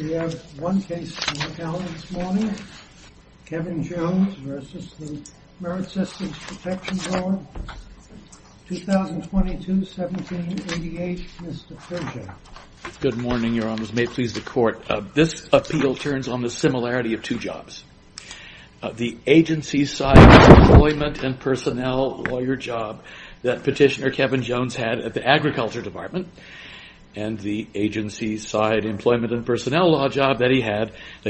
We have one case to look at this morning. Kevin Jones v. The Merit Systems Protection Board, 2022-17-88. Mr. Pershing. Good morning, Your Honors. May it please the Court. This appeal turns on the similarity of two jobs. The agency-side employment and personnel lawyer job that Petitioner Kevin Jones had at the Agriculture Department and the agency-side employment and personnel law job that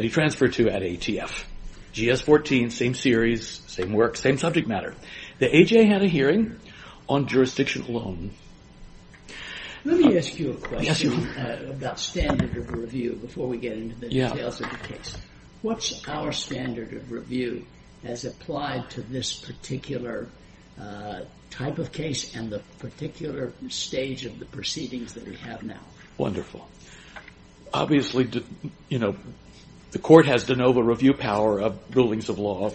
he transferred to at ATF. GS-14, same series, same work, same subject matter. The AJ had a hearing on jurisdiction alone. Let me ask you a question about standard of review before we get into the details of the case. What's our standard of review as applied to this particular type of case and the particular stage of the proceedings that we have now? Wonderful. Obviously, the Court has de novo review power of rulings of law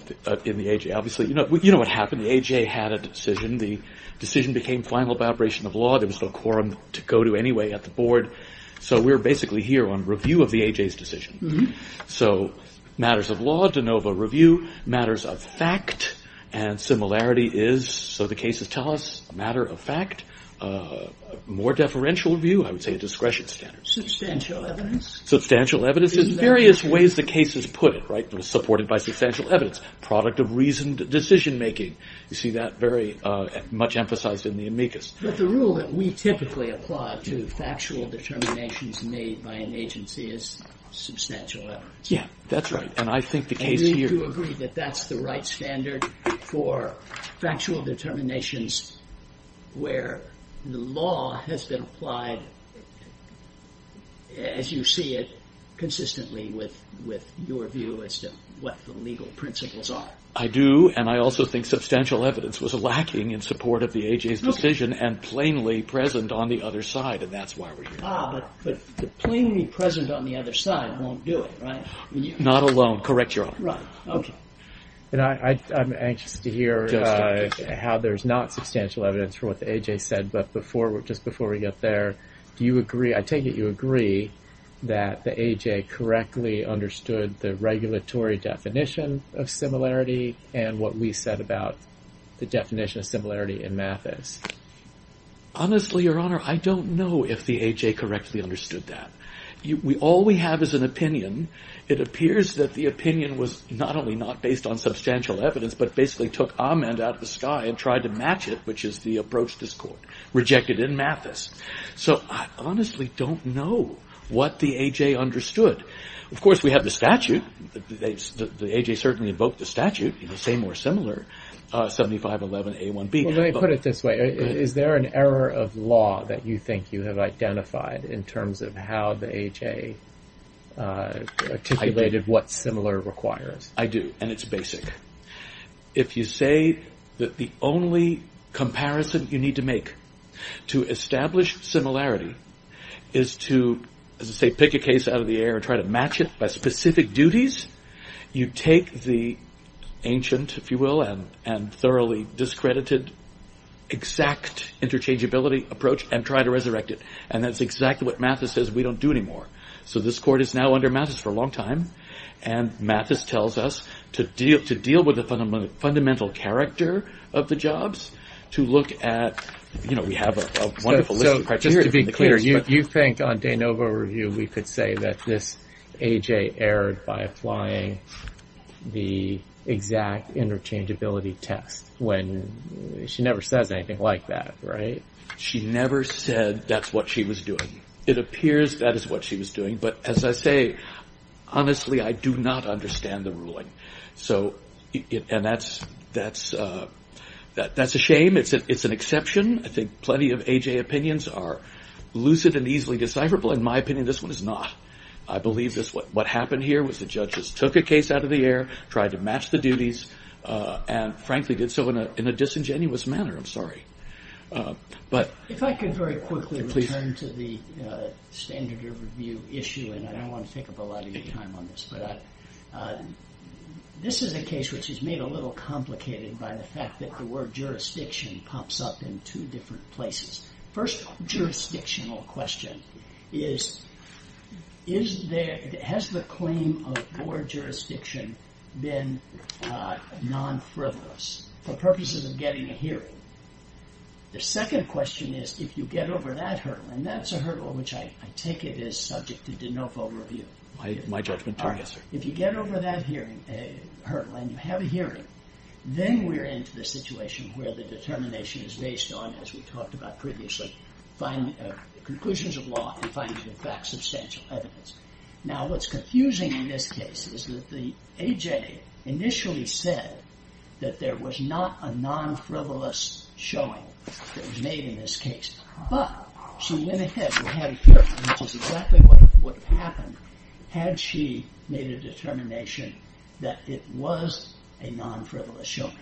in the AJ. Obviously, you know what happened. The AJ had a decision. The decision became final vibration of law. There was no quorum to go to anyway at the Board, so we're basically here on review of the AJ's decision. So matters of law, de novo review. Matters of fact and similarity is, so the cases tell us, matter of fact. More deferential review, I would say a discretion standard. Substantial evidence. Substantial evidence in various ways the cases put it, right? Supported by substantial evidence. Product of reasoned decision making. You see that very much emphasized in the amicus. But the rule that we typically apply to factual determinations made by an agency is substantial evidence. Yeah, that's right. And I think the case here... Do you agree that that's the right standard for factual determinations where the law has been applied as you see it consistently with your view as to what the legal principles are? I do, and I also think substantial evidence was lacking in support of the AJ's decision and plainly present on the other side, and that's why we're here. Ah, but plainly present on the other side won't do it, right? Not alone. Correct your honor. Right. Okay. And I'm anxious to hear how there's not substantial evidence for what the AJ said. But just before we get there, do you agree, I take it you agree that the AJ correctly understood the regulatory definition of similarity and what we said about the definition of similarity in math is? Honestly, your honor, I don't know if the AJ correctly understood that. All we have is an opinion. It appears that the opinion was not only not based on substantial evidence, but basically took Amand out of the sky and tried to match it, which is the approach this court rejected in Mathis. So I honestly don't know what the AJ understood. Of course, we have the statute. The AJ certainly invoked the statute in the same or similar 7511A1B. Let me put it this way. Is there an error of law that you think you have identified in terms of how the AJ articulated what similar requires? I do. And it's basic. If you say that the only comparison you need to make to establish similarity is to say, pick a case out of the air, try to match it by specific duties. You take the ancient, if you will, and and thoroughly discredited exact interchangeability approach and try to resurrect it. And that's exactly what Mathis says we don't do anymore. So this court is now under Mathis for a long time. And Mathis tells us to deal with the fundamental character of the jobs to look at. You know, we have a wonderful list of criteria. Just to be clear, you think on de novo review, we could say that this AJ erred by applying the exact interchangeability test when she never says anything like that. Right. She never said that's what she was doing. It appears that is what she was doing. But as I say, honestly, I do not understand the ruling. So that's a shame. It's an exception. I think plenty of AJ opinions are lucid and easily decipherable. In my opinion, this one is not. I believe this what happened here was the judges took a case out of the air, tried to match the duties and frankly did so in a disingenuous manner. If I could very quickly return to the standard of review issue and I don't want to take up a lot of your time on this. This is a case which is made a little complicated by the fact that the word jurisdiction pops up in two different places. First jurisdictional question is, has the claim of board jurisdiction been non-frivolous for purposes of getting a hearing? The second question is, if you get over that hurdle, and that's a hurdle which I take it is subject to de novo review. My judgment is yes, sir. If you get over that hurdle and you have a hearing, then we're into the situation where the determination is based on, as we talked about previously, finding conclusions of law and finding in fact substantial evidence. Now what's confusing in this case is that AJ initially said that there was not a non-frivolous showing that was made in this case. But she went ahead and had a hearing, which is exactly what would have happened had she made a determination that it was a non-frivolous showing.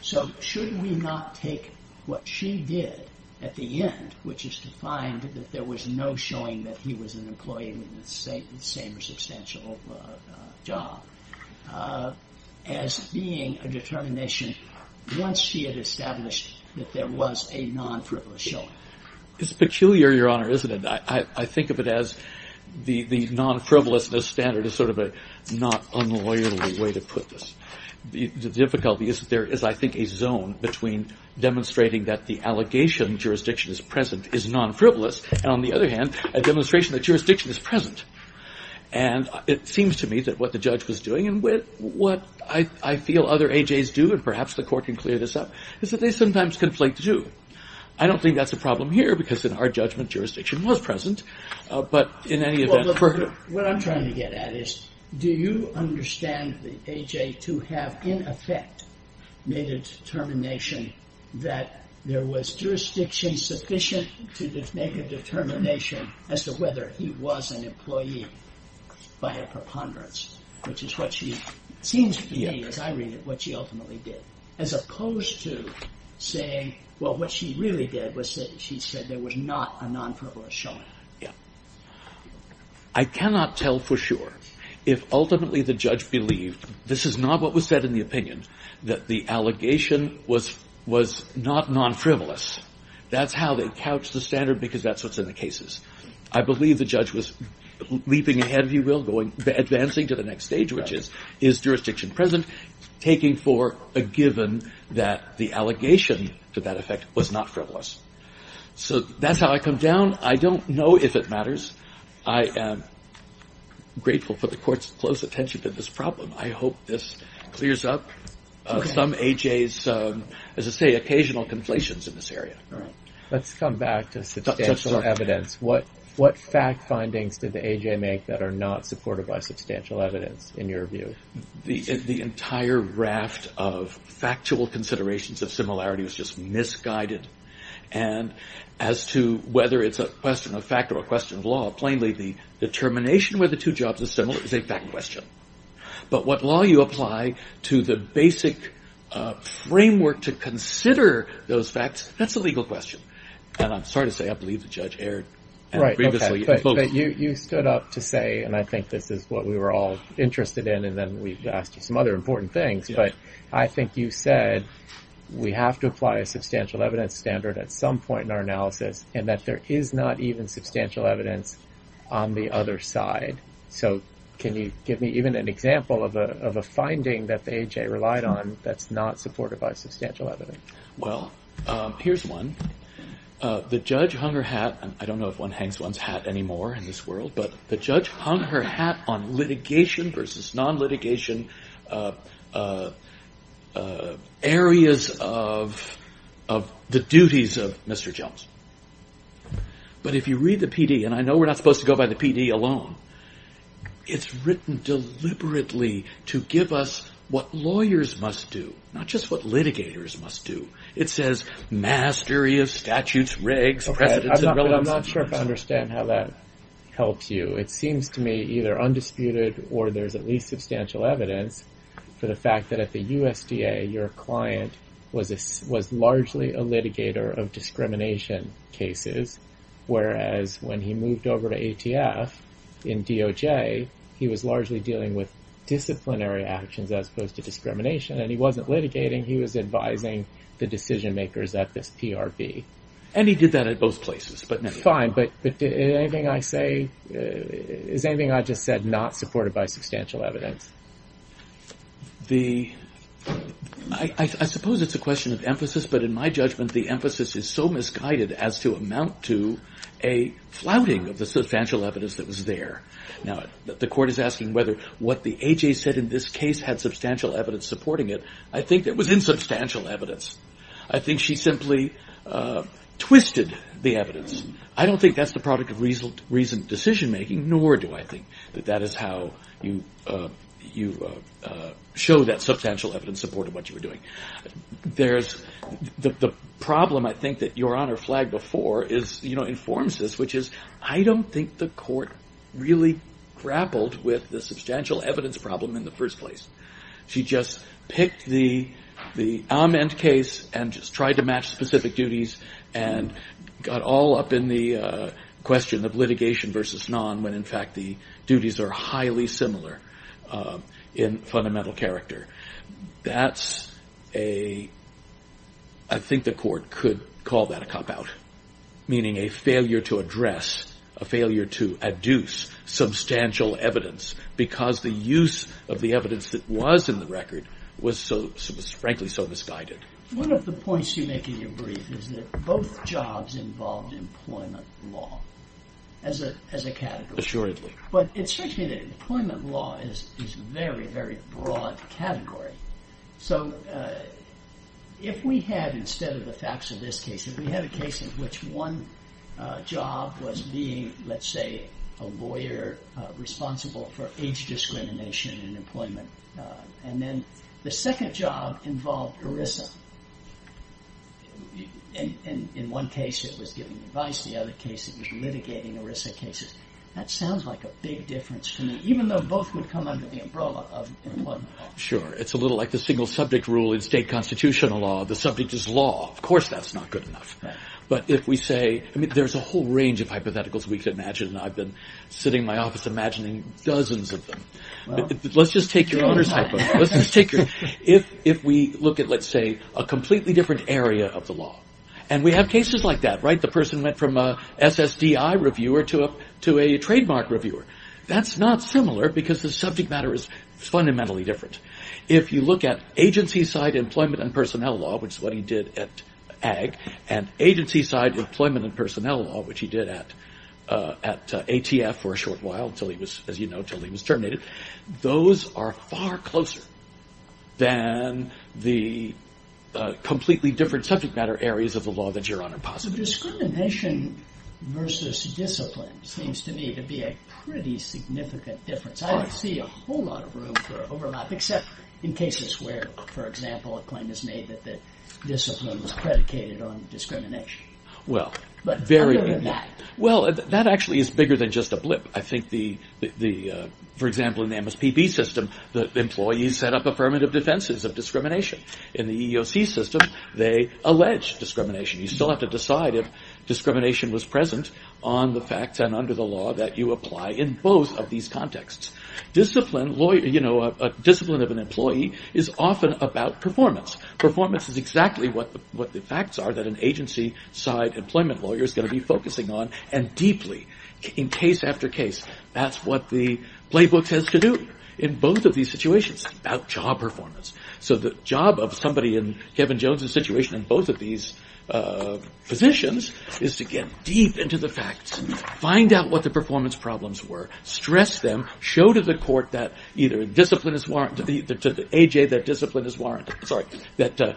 So should we not take what she did at the end, which is to find that there was no showing that he was an employee with the same or substantial job, as being a determination once she had established that there was a non-frivolous showing? It's peculiar, Your Honor, isn't it? I think of it as the non-frivolousness standard is sort of a not unlawful way to put this. The difficulty is that there is, I think, a zone between demonstrating that the allegation jurisdiction is present is non-frivolous, and on the other hand, a demonstration that jurisdiction is present. And it seems to me that what the judge was doing, and what I feel other AJs do, and perhaps the court can clear this up, is that they sometimes conflate the two. I don't think that's a problem here, because in our judgment, jurisdiction was present, but in any event... What I'm trying to get at is, do you understand the AJ to have, in effect, made a determination that there was jurisdiction sufficient to make a determination as to whether he was an employee by a preponderance? Which is what she seems to be, as I read it, what she ultimately did. As opposed to saying, well, what she really did was that she said there was not a non-frivolous showing. I cannot tell for sure. If ultimately the judge believed, this is not what was said in the opinion, that the allegation was not non-frivolous, that's how they couch the standard, because that's what's in the cases. I believe the judge was leaping ahead, if you will, advancing to the next stage, which is, is jurisdiction present, taking for a given that the allegation to that effect was not frivolous. So that's how I come down. I don't know if it matters. I am grateful for the court's close attention to this problem. I hope this clears up some AJ's, as I say, occasional conflations in this area. Let's come back to substantial evidence. What fact findings did the AJ make that are not supported by substantial evidence, in your view? The entire raft of factual considerations of similarity was just misguided. And as to whether it's a question of fact or a question of law, plainly the determination where the two jobs are similar is a fact question. But what law you apply to the basic framework to consider those facts, that's a legal question. And I'm sorry to say, I believe the judge erred previously. But you stood up to say, and I think this is what we were all interested in, and then we asked you some other important things. But I think you said we have to apply a substantial evidence standard at some point in our analysis, and that there is not even substantial evidence on the other side. So can you give me even an example of a finding that the AJ relied on that's not supported by substantial evidence? Well, here's one. The judge hung her hat, and I don't know if one hangs one's hat anymore in this world, but the judge hung her hat on litigation versus non-litigation areas of the duties of Mr. Jones. But if you read the PD, and I know we're not supposed to go by the PD alone, it's written deliberately to give us what lawyers must do, not just what litigators must do. It says, mastery of statutes, regs, precedents, and relevance. Okay, but I'm not sure if I understand how that helps you. It seems to me either undisputed or there's at least substantial evidence for the fact that at the USDA, your client was largely a litigator of discrimination cases, whereas when he moved over to ATF, in DOJ, he was largely dealing with disciplinary actions as opposed to discrimination, and he wasn't litigating. He was advising the decision-makers at this PRB. And he did that at both places. Fine, but is anything I just said not supported by substantial evidence? I suppose it's a question of emphasis, but in my judgment, the emphasis is so misguided as to amount to a flouting of the substantial evidence that was there. Now, the court is asking whether what the AJ said in this case had substantial evidence supporting it. I think there was insubstantial evidence. I think she simply twisted the evidence. I don't think that's the product of reasoned decision-making, nor do I think that that is how you show that substantial evidence supported what you were doing. The problem, I think, that Your Honor flagged before informs this, which is I don't think the court really grappled with the substantial evidence problem in the first place. She just picked the amend case and just tried to match specific duties and got all up in the question of litigation versus non when, in fact, the duties are highly similar in fundamental character. That's a, I think the court could call that a cop-out, meaning a failure to address, a failure to adduce substantial evidence because the use of the evidence that was in the record was frankly so misguided. One of the points you make in your brief is that both jobs involved employment law as a category. Assuredly. But it strikes me that employment law is a very, very broad category. So if we had, instead of the facts of this case, if we had a case in which one job was being, let's say, a lawyer responsible for age discrimination in employment and then the second job involved ERISA, and in one case it was giving advice, the other case it was litigating ERISA cases, that sounds like a big difference to me, even though both would come under the umbrella of employment law. Sure. It's a little like the single subject rule in state constitutional law. The subject is law. Of course that's not good enough. But if we say, I mean, there's a whole range of hypotheticals we could imagine and I've been sitting in my office imagining dozens of them. Let's just take your owner's hypothetical. If we look at, let's say, a completely different area of the law, and we have cases like that, right? The person went from a SSDI reviewer to a trademark reviewer. That's not similar because the subject matter is fundamentally different. If you look at agency side employment and personnel law, which is what he did at AG, and agency side employment and personnel law, which he did at ATF for a short while, until he was, as you know, until he was terminated, those are far closer than the completely different subject matter areas of the law that your honor posits. So discrimination versus discipline seems to me to be a pretty significant difference. I don't see a whole lot of room for overlap, except in cases where, for example, a claim is made that the discipline was predicated on discrimination. Well, very. But other than that. Well, that actually is bigger than just a blip. I think, for example, in the MSPB system, the employees set up affirmative defenses of discrimination. In the EEOC system, they allege discrimination. You still have to decide if discrimination was present on the facts and under the law that you apply in both of these contexts. Discipline of an employee is often about performance. Performance is exactly what the facts are that an agency side employment lawyer is going to be focusing on, and deeply, in case after case, that's what the playbook says to do in both of these situations. It's about job performance. So the job of somebody in Kevin Jones' situation in both of these positions is to get deep into the facts, find out what the performance problems were, stress them, show to the court that either discipline is warranted, sorry, that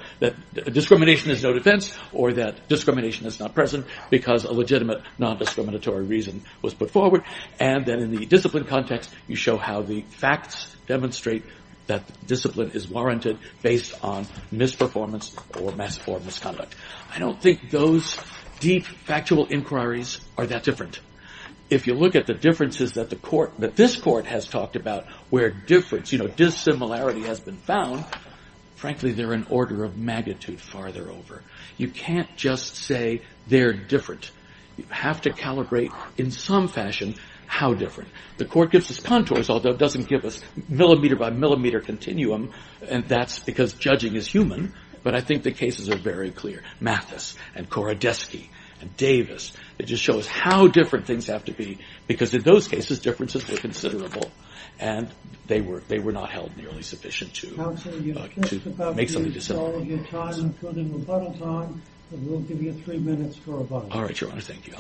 discrimination is no defense or that discrimination is not present because a legitimate non-discriminatory reason was put forward, and then in the discipline context, you show how the facts demonstrate that discipline is warranted based on misperformance or misconduct. I don't think those deep factual inquiries are that different. If you look at the differences that the court, that this court has talked about where difference, you know, dissimilarity has been found, frankly, they're an order of magnitude farther over. You can't just say they're different. You have to calibrate in some fashion how different. The court gives us contours, although it doesn't give us millimeter by millimeter continuum, and that's because judging is human, but I think the cases are very clear. Mathis and Koradesky and Davis, it just shows how different things have to be because in those cases, differences were considerable and they were not held nearly sufficient to make something dissimilar. We'll give you three minutes for a vote. All right. Your Honor. Thank you.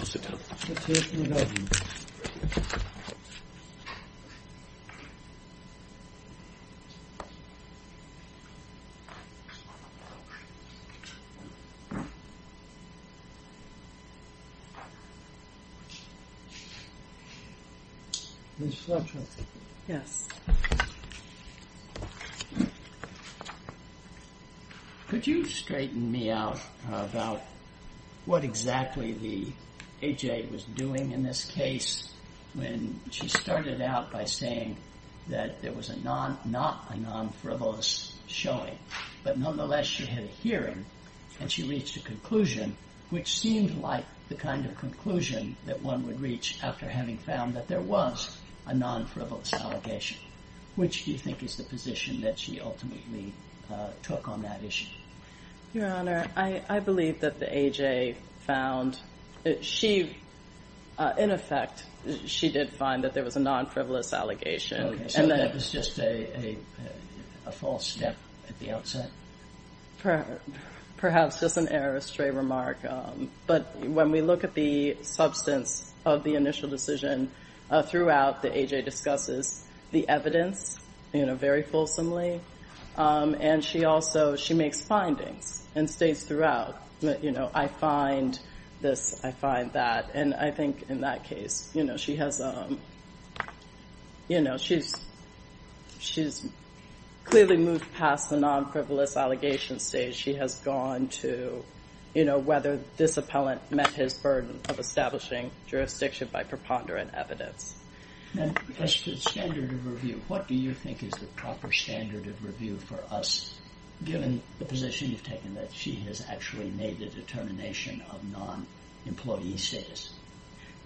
Could you straighten me out about what exactly the A.J. was doing in this case when she started out by saying that there was not a non-frivolous showing, but nonetheless she had a hearing and she reached a conclusion, which seemed like the kind of conclusion that one would reach after having found that there was a non-frivolous allegation, which do you think is the position that she ultimately took on that issue? Your Honor, I believe that the A.J. found that she, in effect, she did find that there was a non-frivolous allegation. So that was just a false step at the outset? Perhaps just an error, a stray remark, but when we look at the substance of the initial decision, throughout the A.J. discusses the evidence very fulsomely, and she also, she makes findings and states throughout that, you know, I find this, I find that, and I think in that case, you know, she has, you know, she's clearly moved past the non-frivolous allegation stage. She has gone to, you know, whether this appellant met his burden of establishing jurisdiction by preponderant evidence. And as to the standard of review, what do you think is the proper standard of review for us, given the position you've taken that she has actually made the determination of non-employee status?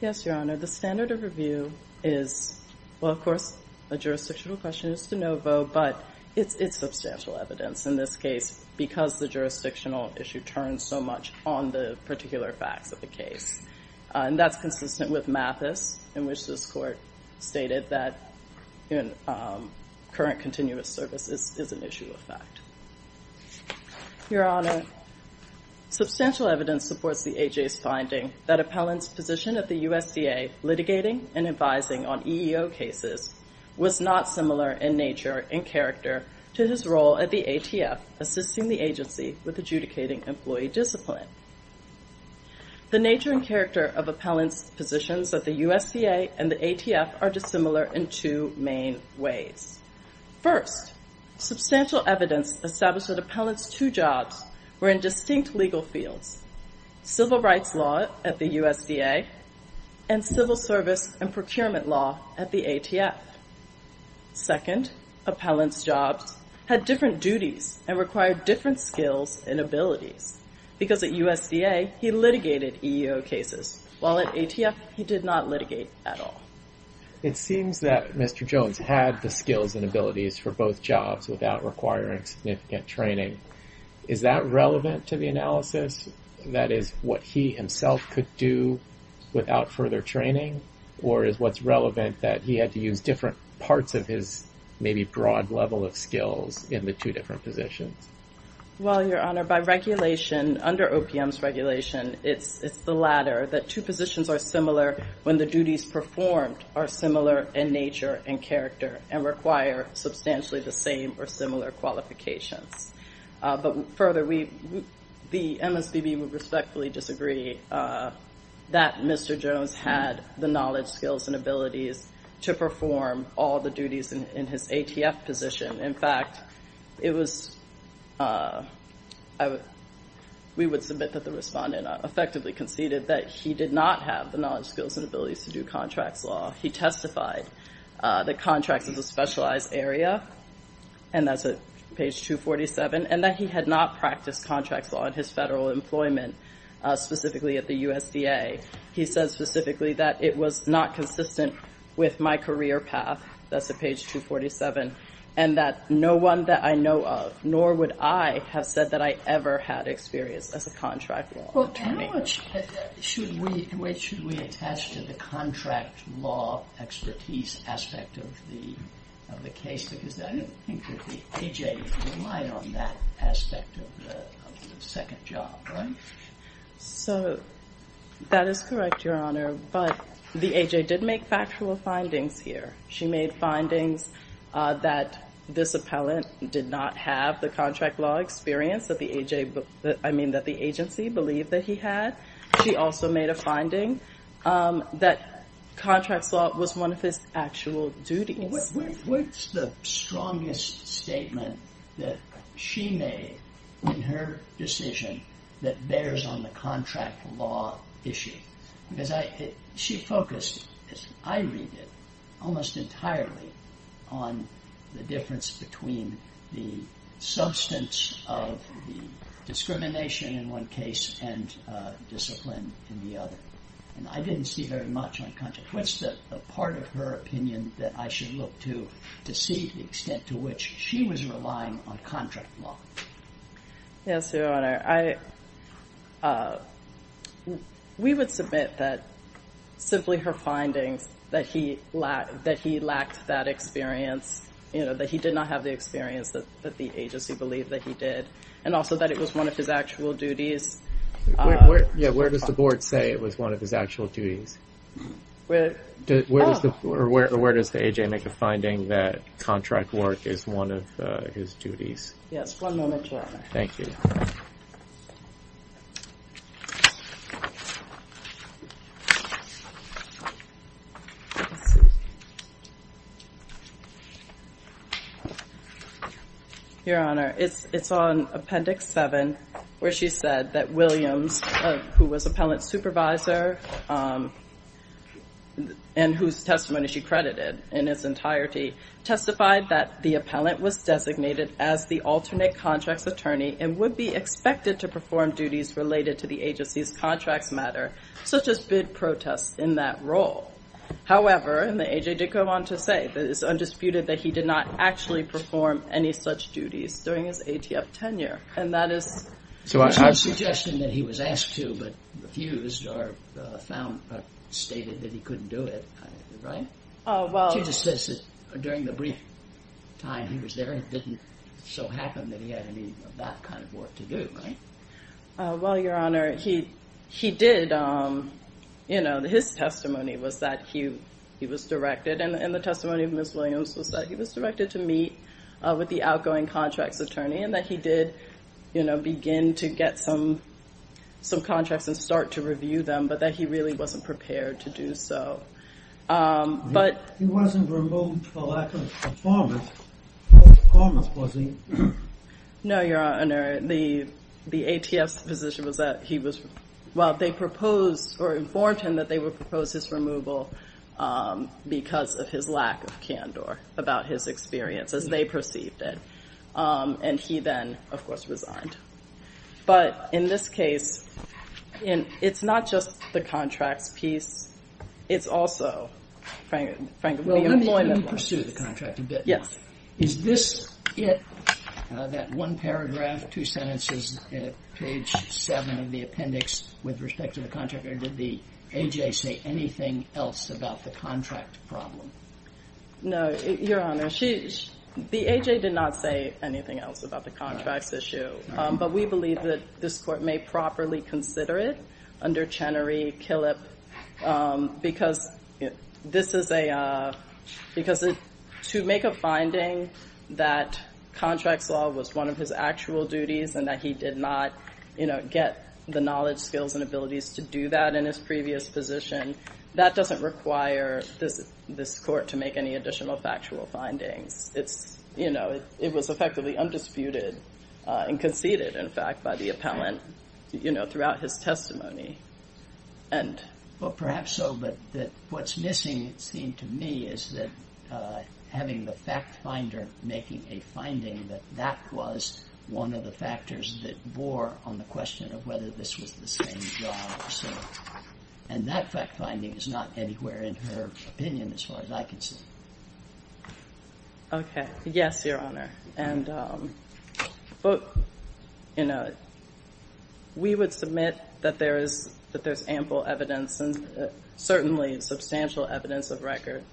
Yes, Your Honor, the standard of review is, well, of course, a jurisdictional question is de novo, but it's substantial evidence in this case, because the jurisdictional issue turns so much on the particular facts of the case. And that's consistent with Mathis, in which this court stated that current continuous service is an issue of fact. Your Honor, substantial evidence supports the A.J.'s finding that appellant's position at the USDA, litigating and advising on EEO cases, was not similar in nature and character to his role at the ATF, assisting the agency with adjudicating employee discipline. The nature and character of appellant's positions at the USDA and the ATF are dissimilar in two main ways. First, substantial evidence established that appellant's two jobs were in distinct legal fields, civil rights law at the USDA and civil service and procurement law at the ATF. Second, appellant's jobs had different duties and required different skills and abilities, because at USDA, he litigated EEO cases, while at ATF, he did not litigate at all. It seems that Mr. Jones had the skills and abilities for both jobs without requiring significant training. Is that relevant to the analysis? That is what he himself could do without further training, or is what's relevant that he had to use different parts of his maybe broad level of skills in the two different positions? Well, Your Honor, by regulation, under OPM's regulation, it's the latter, that two positions are similar when the duties performed are similar in nature and character and require substantially the same or similar qualifications. But further, the MSBB would respectfully disagree that Mr. Jones had the knowledge, skills, and abilities to perform all the duties in his ATF position. In fact, we would submit that the respondent effectively conceded that he did not have the knowledge, skills, and abilities to do contracts law. He testified that contracts is a specialized area, and that's at page 247, and that he had not practiced contracts law at his federal employment, specifically at the USDA. He said specifically that it was not consistent with my career path, that's at page 247, and that no one that I know of, nor would I have said that I ever had experience as a contract law attorney. Well, Tamara, should we attach to the contract law expertise aspect of the case? Because I don't think that the AJ relied on that aspect of the second job, right? So that is correct, Your Honor, but the AJ did make factual findings here. She made findings that this appellant did not have the contract law experience, I mean, that the agency believed that he had. She also made a finding that contracts law was one of his actual duties. What's the strongest statement that she made in her decision that bears on the contract law issue? Because she focused, as I read it, almost entirely on the difference between the substance of the discrimination in one case and discipline in the other, and I didn't see very much on contract. What's the part of her opinion that I should look to to see the extent to which she was relying on contract law? Yes, Your Honor. We would submit that simply her findings, that he lacked that experience, that he did not have the experience that the agency believed that he did, and also that it was one of his actual duties. Where does the board say it was one of his actual duties? Where does the AJ make a finding that contract work is one of his duties? Yes, one moment, Your Honor. Thank you. Your Honor, it's on Appendix 7 where she said that Williams, who was appellant supervisor, and whose testimony she credited in its entirety, testified that the appellant was designated as the alternate contracts attorney and would be expected to perform duties related to the agency's contracts matter, such as bid protests in that role. However, and the AJ did go on to say, that it's undisputed that he did not actually perform any such duties during his ATF tenure, and that is... It's not a suggestion that he was asked to, but refused or stated that he couldn't do it, right? Well... She just says that during the brief time he was there, it didn't so happen that he had any of that kind of work to do, right? Well, Your Honor, he did, you know, his testimony was that he was directed, and the testimony of Ms. Williams was that he was directed to meet with the outgoing contracts attorney and that he did, you know, begin to get some contracts and start to review them, but that he really wasn't prepared to do so. But... He wasn't removed for lack of performance, was he? No, Your Honor. The ATF's position was that he was... Well, they proposed or informed him that they would propose his removal because of his lack of candor about his experience, as they perceived it. And he then, of course, resigned. But in this case, it's not just the contracts piece. It's also, frankly, the employment process. Well, let me pursue the contract a bit. Yes. Is this it, that one paragraph, two sentences, page seven of the appendix with respect to the contract, or did the AJ say anything else about the contract problem? No, Your Honor. The AJ did not say anything else about the contracts issue, but we believe that this Court may properly consider it under Chenery, Killip, because this is a... Because to make a finding that contracts law was one of his actual duties and that he did not, you know, get the knowledge, skills, and abilities to do that in his previous position, that doesn't require this Court to make any additional factual findings. It's, you know, it was effectively undisputed and conceded, in fact, by the appellant, you know, throughout his testimony. Well, perhaps so, but what's missing, it seemed to me, is that having the fact finder making a finding that that was one of the factors that bore on the question of whether this was the same job or so. And that fact finding is not anywhere in her opinion as far as I can see. Okay. Yes, Your Honor. And, um, but, you know, we would submit that there's ample evidence and certainly substantial evidence of record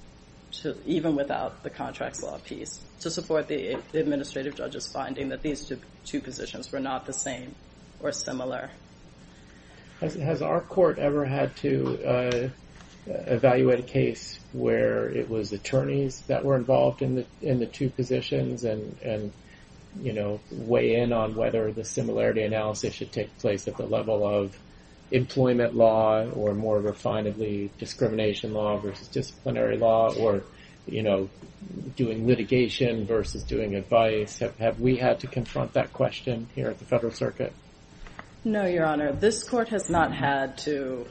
even without the contracts law piece to support the administrative judge's finding that these two positions were not the same or similar. Has our Court ever had to evaluate a case where it was attorneys that were involved in the two positions and, you know, weigh in on whether the similarity analysis should take place at the level of employment law or more refinedly discrimination law versus disciplinary law or, you know, doing litigation versus doing advice? Have we had to confront that question here at the Federal Circuit? No, Your Honor. This Court has not had to,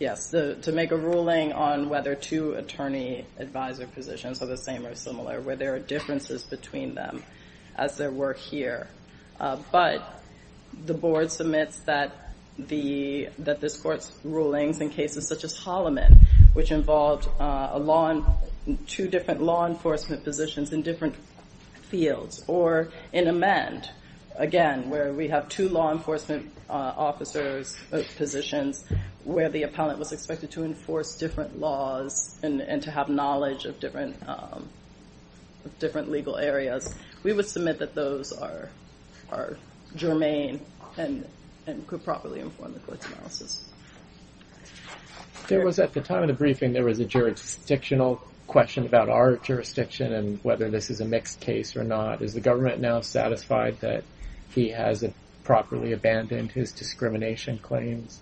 yes, to make a ruling on whether two attorney-advisor positions are the same or similar, where there are differences between them as there were here. But the Board submits that this Court's rulings in cases such as Holloman, which involved two different law enforcement positions in different fields, or in Amend, again, where we have two law enforcement officers' positions where the appellant was expected to enforce different laws and to have knowledge of different legal areas. We would submit that those are germane and could properly inform the Court's analysis. There was, at the time of the briefing, there was a jurisdictional question about our jurisdiction and whether this is a mixed case or not. Is the government now satisfied that he has properly abandoned his discrimination claims?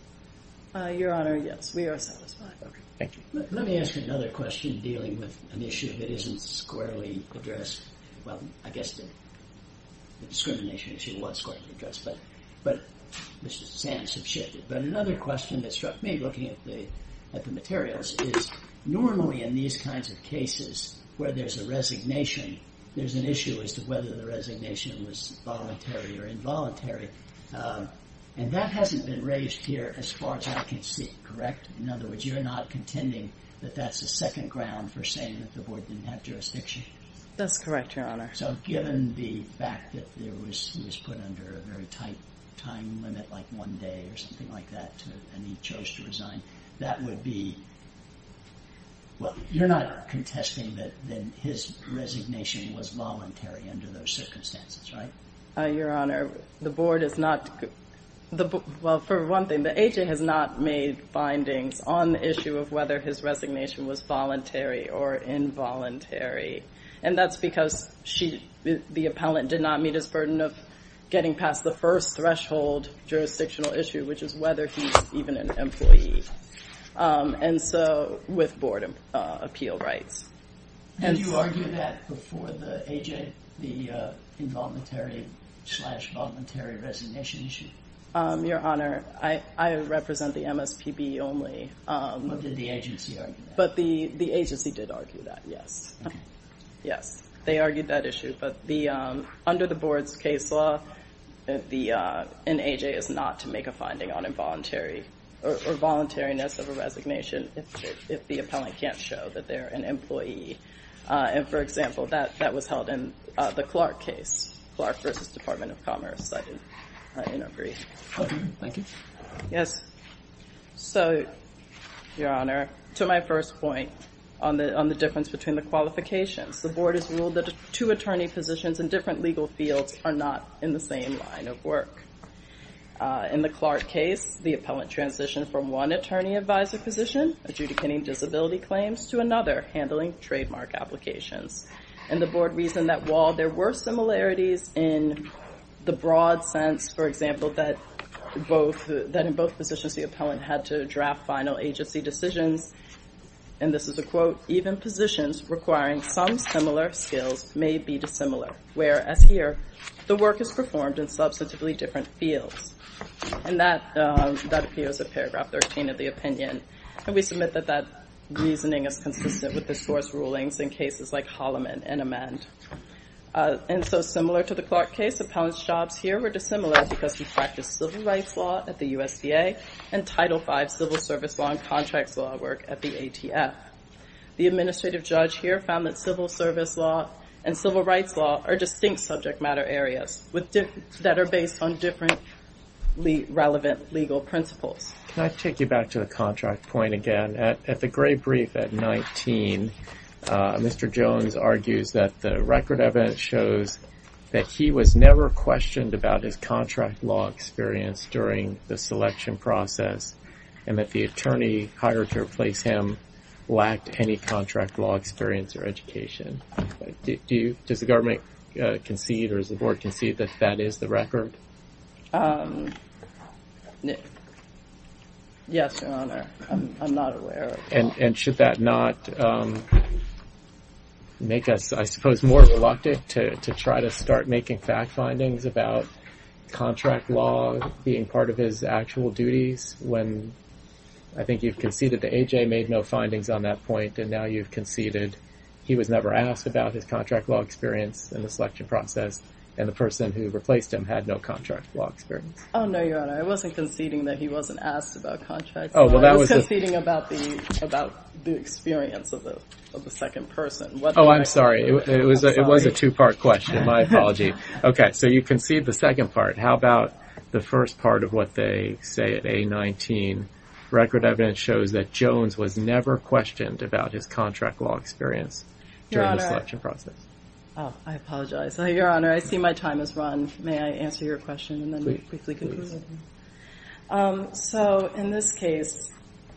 Your Honor, yes, we are satisfied. Thank you. Let me ask you another question dealing with an issue that isn't squarely addressed. Well, I guess the discrimination issue was squarely addressed, but Mr. Sands has shifted. But another question that struck me looking at the materials is normally in these kinds of cases where there's a resignation, there's an issue as to whether the resignation was voluntary or involuntary. And that hasn't been raised here as far as I can see, correct? In other words, you're not contending that that's a second ground for saying that the Board didn't have jurisdiction? That's correct, Your Honor. So given the fact that he was put under a very tight time limit, like one day or something like that, and he chose to resign, that would be – well, you're not contesting that his resignation was voluntary under those circumstances, right? Your Honor, the Board is not – well, for one thing, the agent has not made findings on the issue of whether his resignation was voluntary or involuntary. And that's because the appellant did not meet his burden of getting past the first threshold jurisdictional issue, which is whether he's even an employee. And so with Board appeal rights. Did you argue that before the AJ, the involuntary slash voluntary resignation issue? Your Honor, I represent the MSPB only. But did the agency argue that? But the agency did argue that, yes. Okay. Yes, they argued that issue. But under the Board's case law, an AJ is not to make a finding on involuntary or voluntariness of a resignation if the appellant can't show that they're an employee. And, for example, that was held in the Clark case, Clark v. Department of Commerce. I didn't agree. Thank you. Yes. So, Your Honor, to my first point on the difference between the qualifications, the Board has ruled that two attorney positions in different legal fields are not in the same line of work. In the Clark case, the appellant transitioned from one attorney advisor position adjudicating disability claims to another handling trademark applications. And the Board reasoned that while there were similarities in the broad sense, for example, that in both positions the appellant had to draft final agency decisions, and this is a quote, even positions requiring some similar skills may be dissimilar, whereas here the work is performed in substantively different fields. And that appears in paragraph 13 of the opinion. And we submit that that reasoning is consistent with the source rulings in cases like Holloman and Amend. And so, similar to the Clark case, appellant's jobs here were dissimilar because he practiced civil rights law at the USDA and Title V civil service law and contracts law work at the ATF. The administrative judge here found that civil service law and civil rights law are distinct subject matter areas that are based on different relevant legal principles. Can I take you back to the contract point again? At the gray brief at 19, Mr. Jones argues that the record evidence shows that he was never questioned about his contract law experience during the selection process, and that the attorney hired to replace him lacked any contract law experience or education. Does the government concede, or does the board concede, that that is the record? Yes, Your Honor. I'm not aware of it. And should that not make us, I suppose, more reluctant to try to start making fact findings about contract law being part of his actual duties when I think you've conceded that A.J. made no findings on that point and now you've conceded he was never asked about his contract law experience in the selection process and the person who replaced him had no contract law experience? Oh, no, Your Honor. I wasn't conceding that he wasn't asked about contracts. I was conceding about the experience of the second person. Oh, I'm sorry. It was a two-part question. My apology. Okay, so you concede the second part. How about the first part of what they say at A-19? Record evidence shows that Jones was never questioned about his contract law experience during the selection process. I apologize. Your Honor, I see my time has run. May I answer your question and then briefly conclude? So in this case,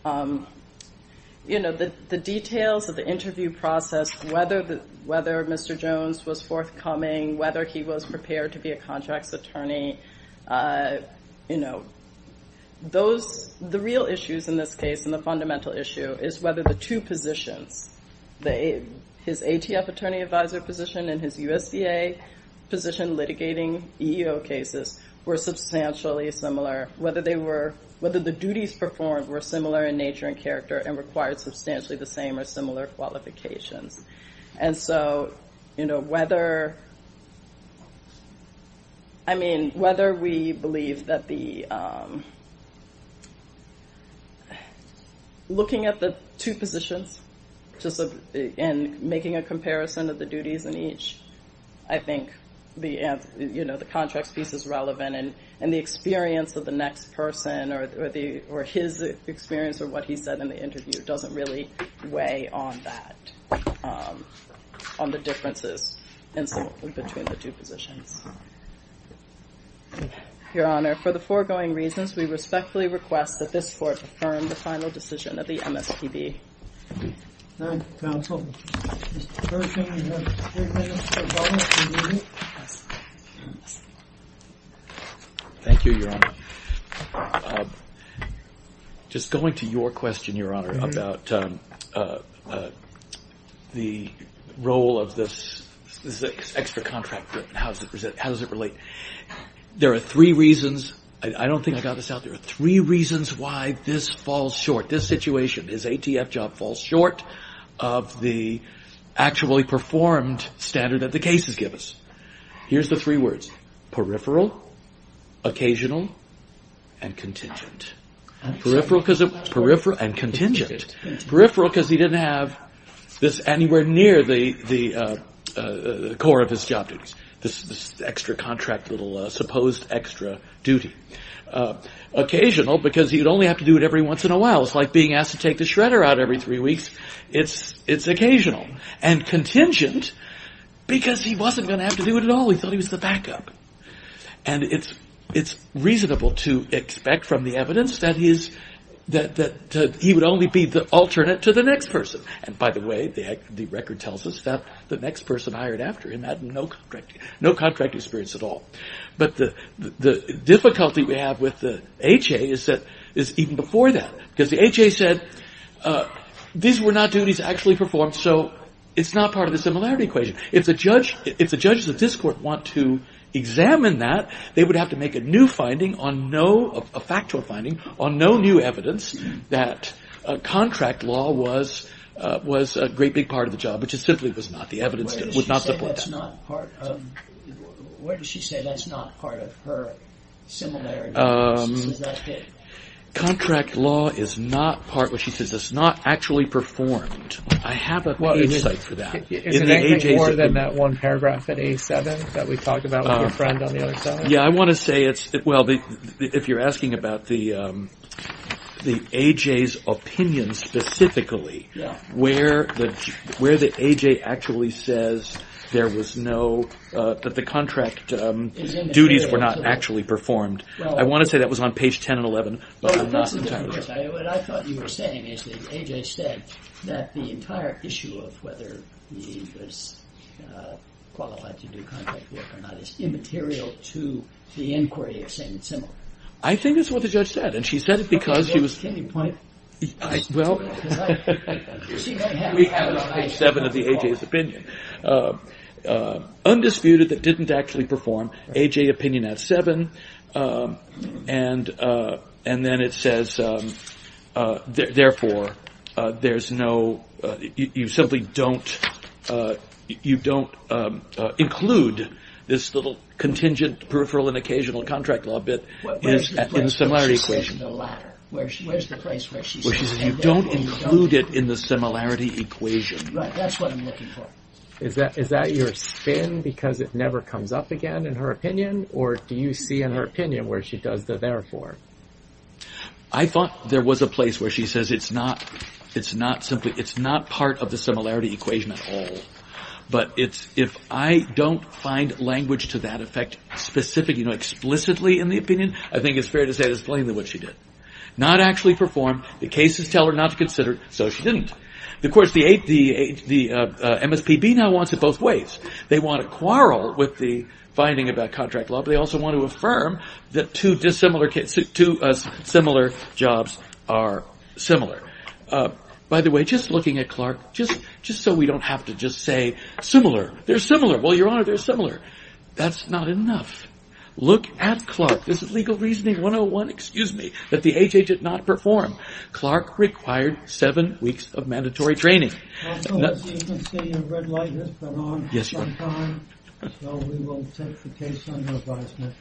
you know, the details of the interview process, whether Mr. Jones was forthcoming, whether he was prepared to be a contracts attorney, you know, the real issues in this case and the fundamental issue is whether the two positions, his ATF attorney advisor position and his USDA position litigating EEO cases were substantially similar, whether the duties performed were similar in nature and character and required substantially the same or similar qualifications. And so, you know, whether, I mean, whether we believe that the looking at the two positions and making a comparison of the duties in each, I think the contracts piece is relevant and the experience of the next person or his experience or what he said in the interview doesn't really weigh on that. On the differences between the two positions. Your Honor, for the foregoing reasons, we respectfully request that this court affirm the final decision of the MSPB. Thank you, counsel. Thank you, Your Honor. Just going to your question, Your Honor, about the role of this extra contract, how does it relate? There are three reasons, I don't think I got this out, there are three reasons why this falls short, this situation, his ATF job falls short of the actually performed standard that the cases give us. Here's the three words, peripheral, occasional, and contingent. Peripheral because he didn't have this anywhere near the core of his job duties. This extra contract little supposed extra duty. Occasional because he'd only have to do it every once in a while. It's like being asked to take the shredder out every three weeks. It's occasional. And contingent because he wasn't going to have to do it at all. He thought he was the backup. And it's reasonable to expect from the evidence that he would only be the alternate to the next person. And by the way, the record tells us that the next person hired after him had no contract experience at all. But the difficulty we have with the HA is even before that. Because the HA said these were not duties actually performed so it's not part of the similarity equation. If the judges of this court want to examine that, they would have to make a new finding, a factual finding, on no new evidence that contract law was a great big part of the job, which it simply was not. The evidence would not support that. Where does she say that's not part of her similarity? Contract law is not part, she says it's not actually performed. I have an insight for that. Is it anything more than that one paragraph at A7 that we talked about with your friend on the other side? Yeah, I want to say it's, well, if you're asking about the AJ's opinion specifically, where the AJ actually says there was no, that the contract duties were not actually performed. I want to say that was on page 10 and 11, but I'm not entirely sure. What I thought you were saying is that AJ said that the entire issue of whether he was qualified to do contract work or not is immaterial to the inquiry of saying it's similar. I think that's what the judge said, and she said it because she was... Can you point? Well, we have it on page 7 of the AJ's opinion. Undisputed that didn't actually perform, AJ opinion at 7, and then it says, therefore, there's no, you simply don't include this little contingent peripheral and occasional contract law bit in the similarity equation. Where's the place where she said that? You don't include it in the similarity equation. Right, that's what I'm looking for. Is that your spin because it never comes up again in her opinion, or do you see in her opinion where she does the therefore? I thought there was a place where she says it's not simply, it's not part of the similarity equation at all, but if I don't find language to that effect specific, you know, explicitly in the opinion, I think it's fair to say it's plainly what she did. Not actually performed, the cases tell her not to consider it, so she didn't. Of course, the MSPB now wants it both ways. They want to quarrel with the finding about contract law, but they also want to affirm that two similar jobs are similar. By the way, just looking at Clark, just so we don't have to just say similar. They're similar. Well, Your Honor, they're similar. That's not enough. Look at Clark. This is legal reasoning 101, excuse me, that the AJ did not perform. Clark required seven weeks of mandatory training. Also, as you can see, a red light has gone on. Yes, Your Honor. So we will take the case under advisement.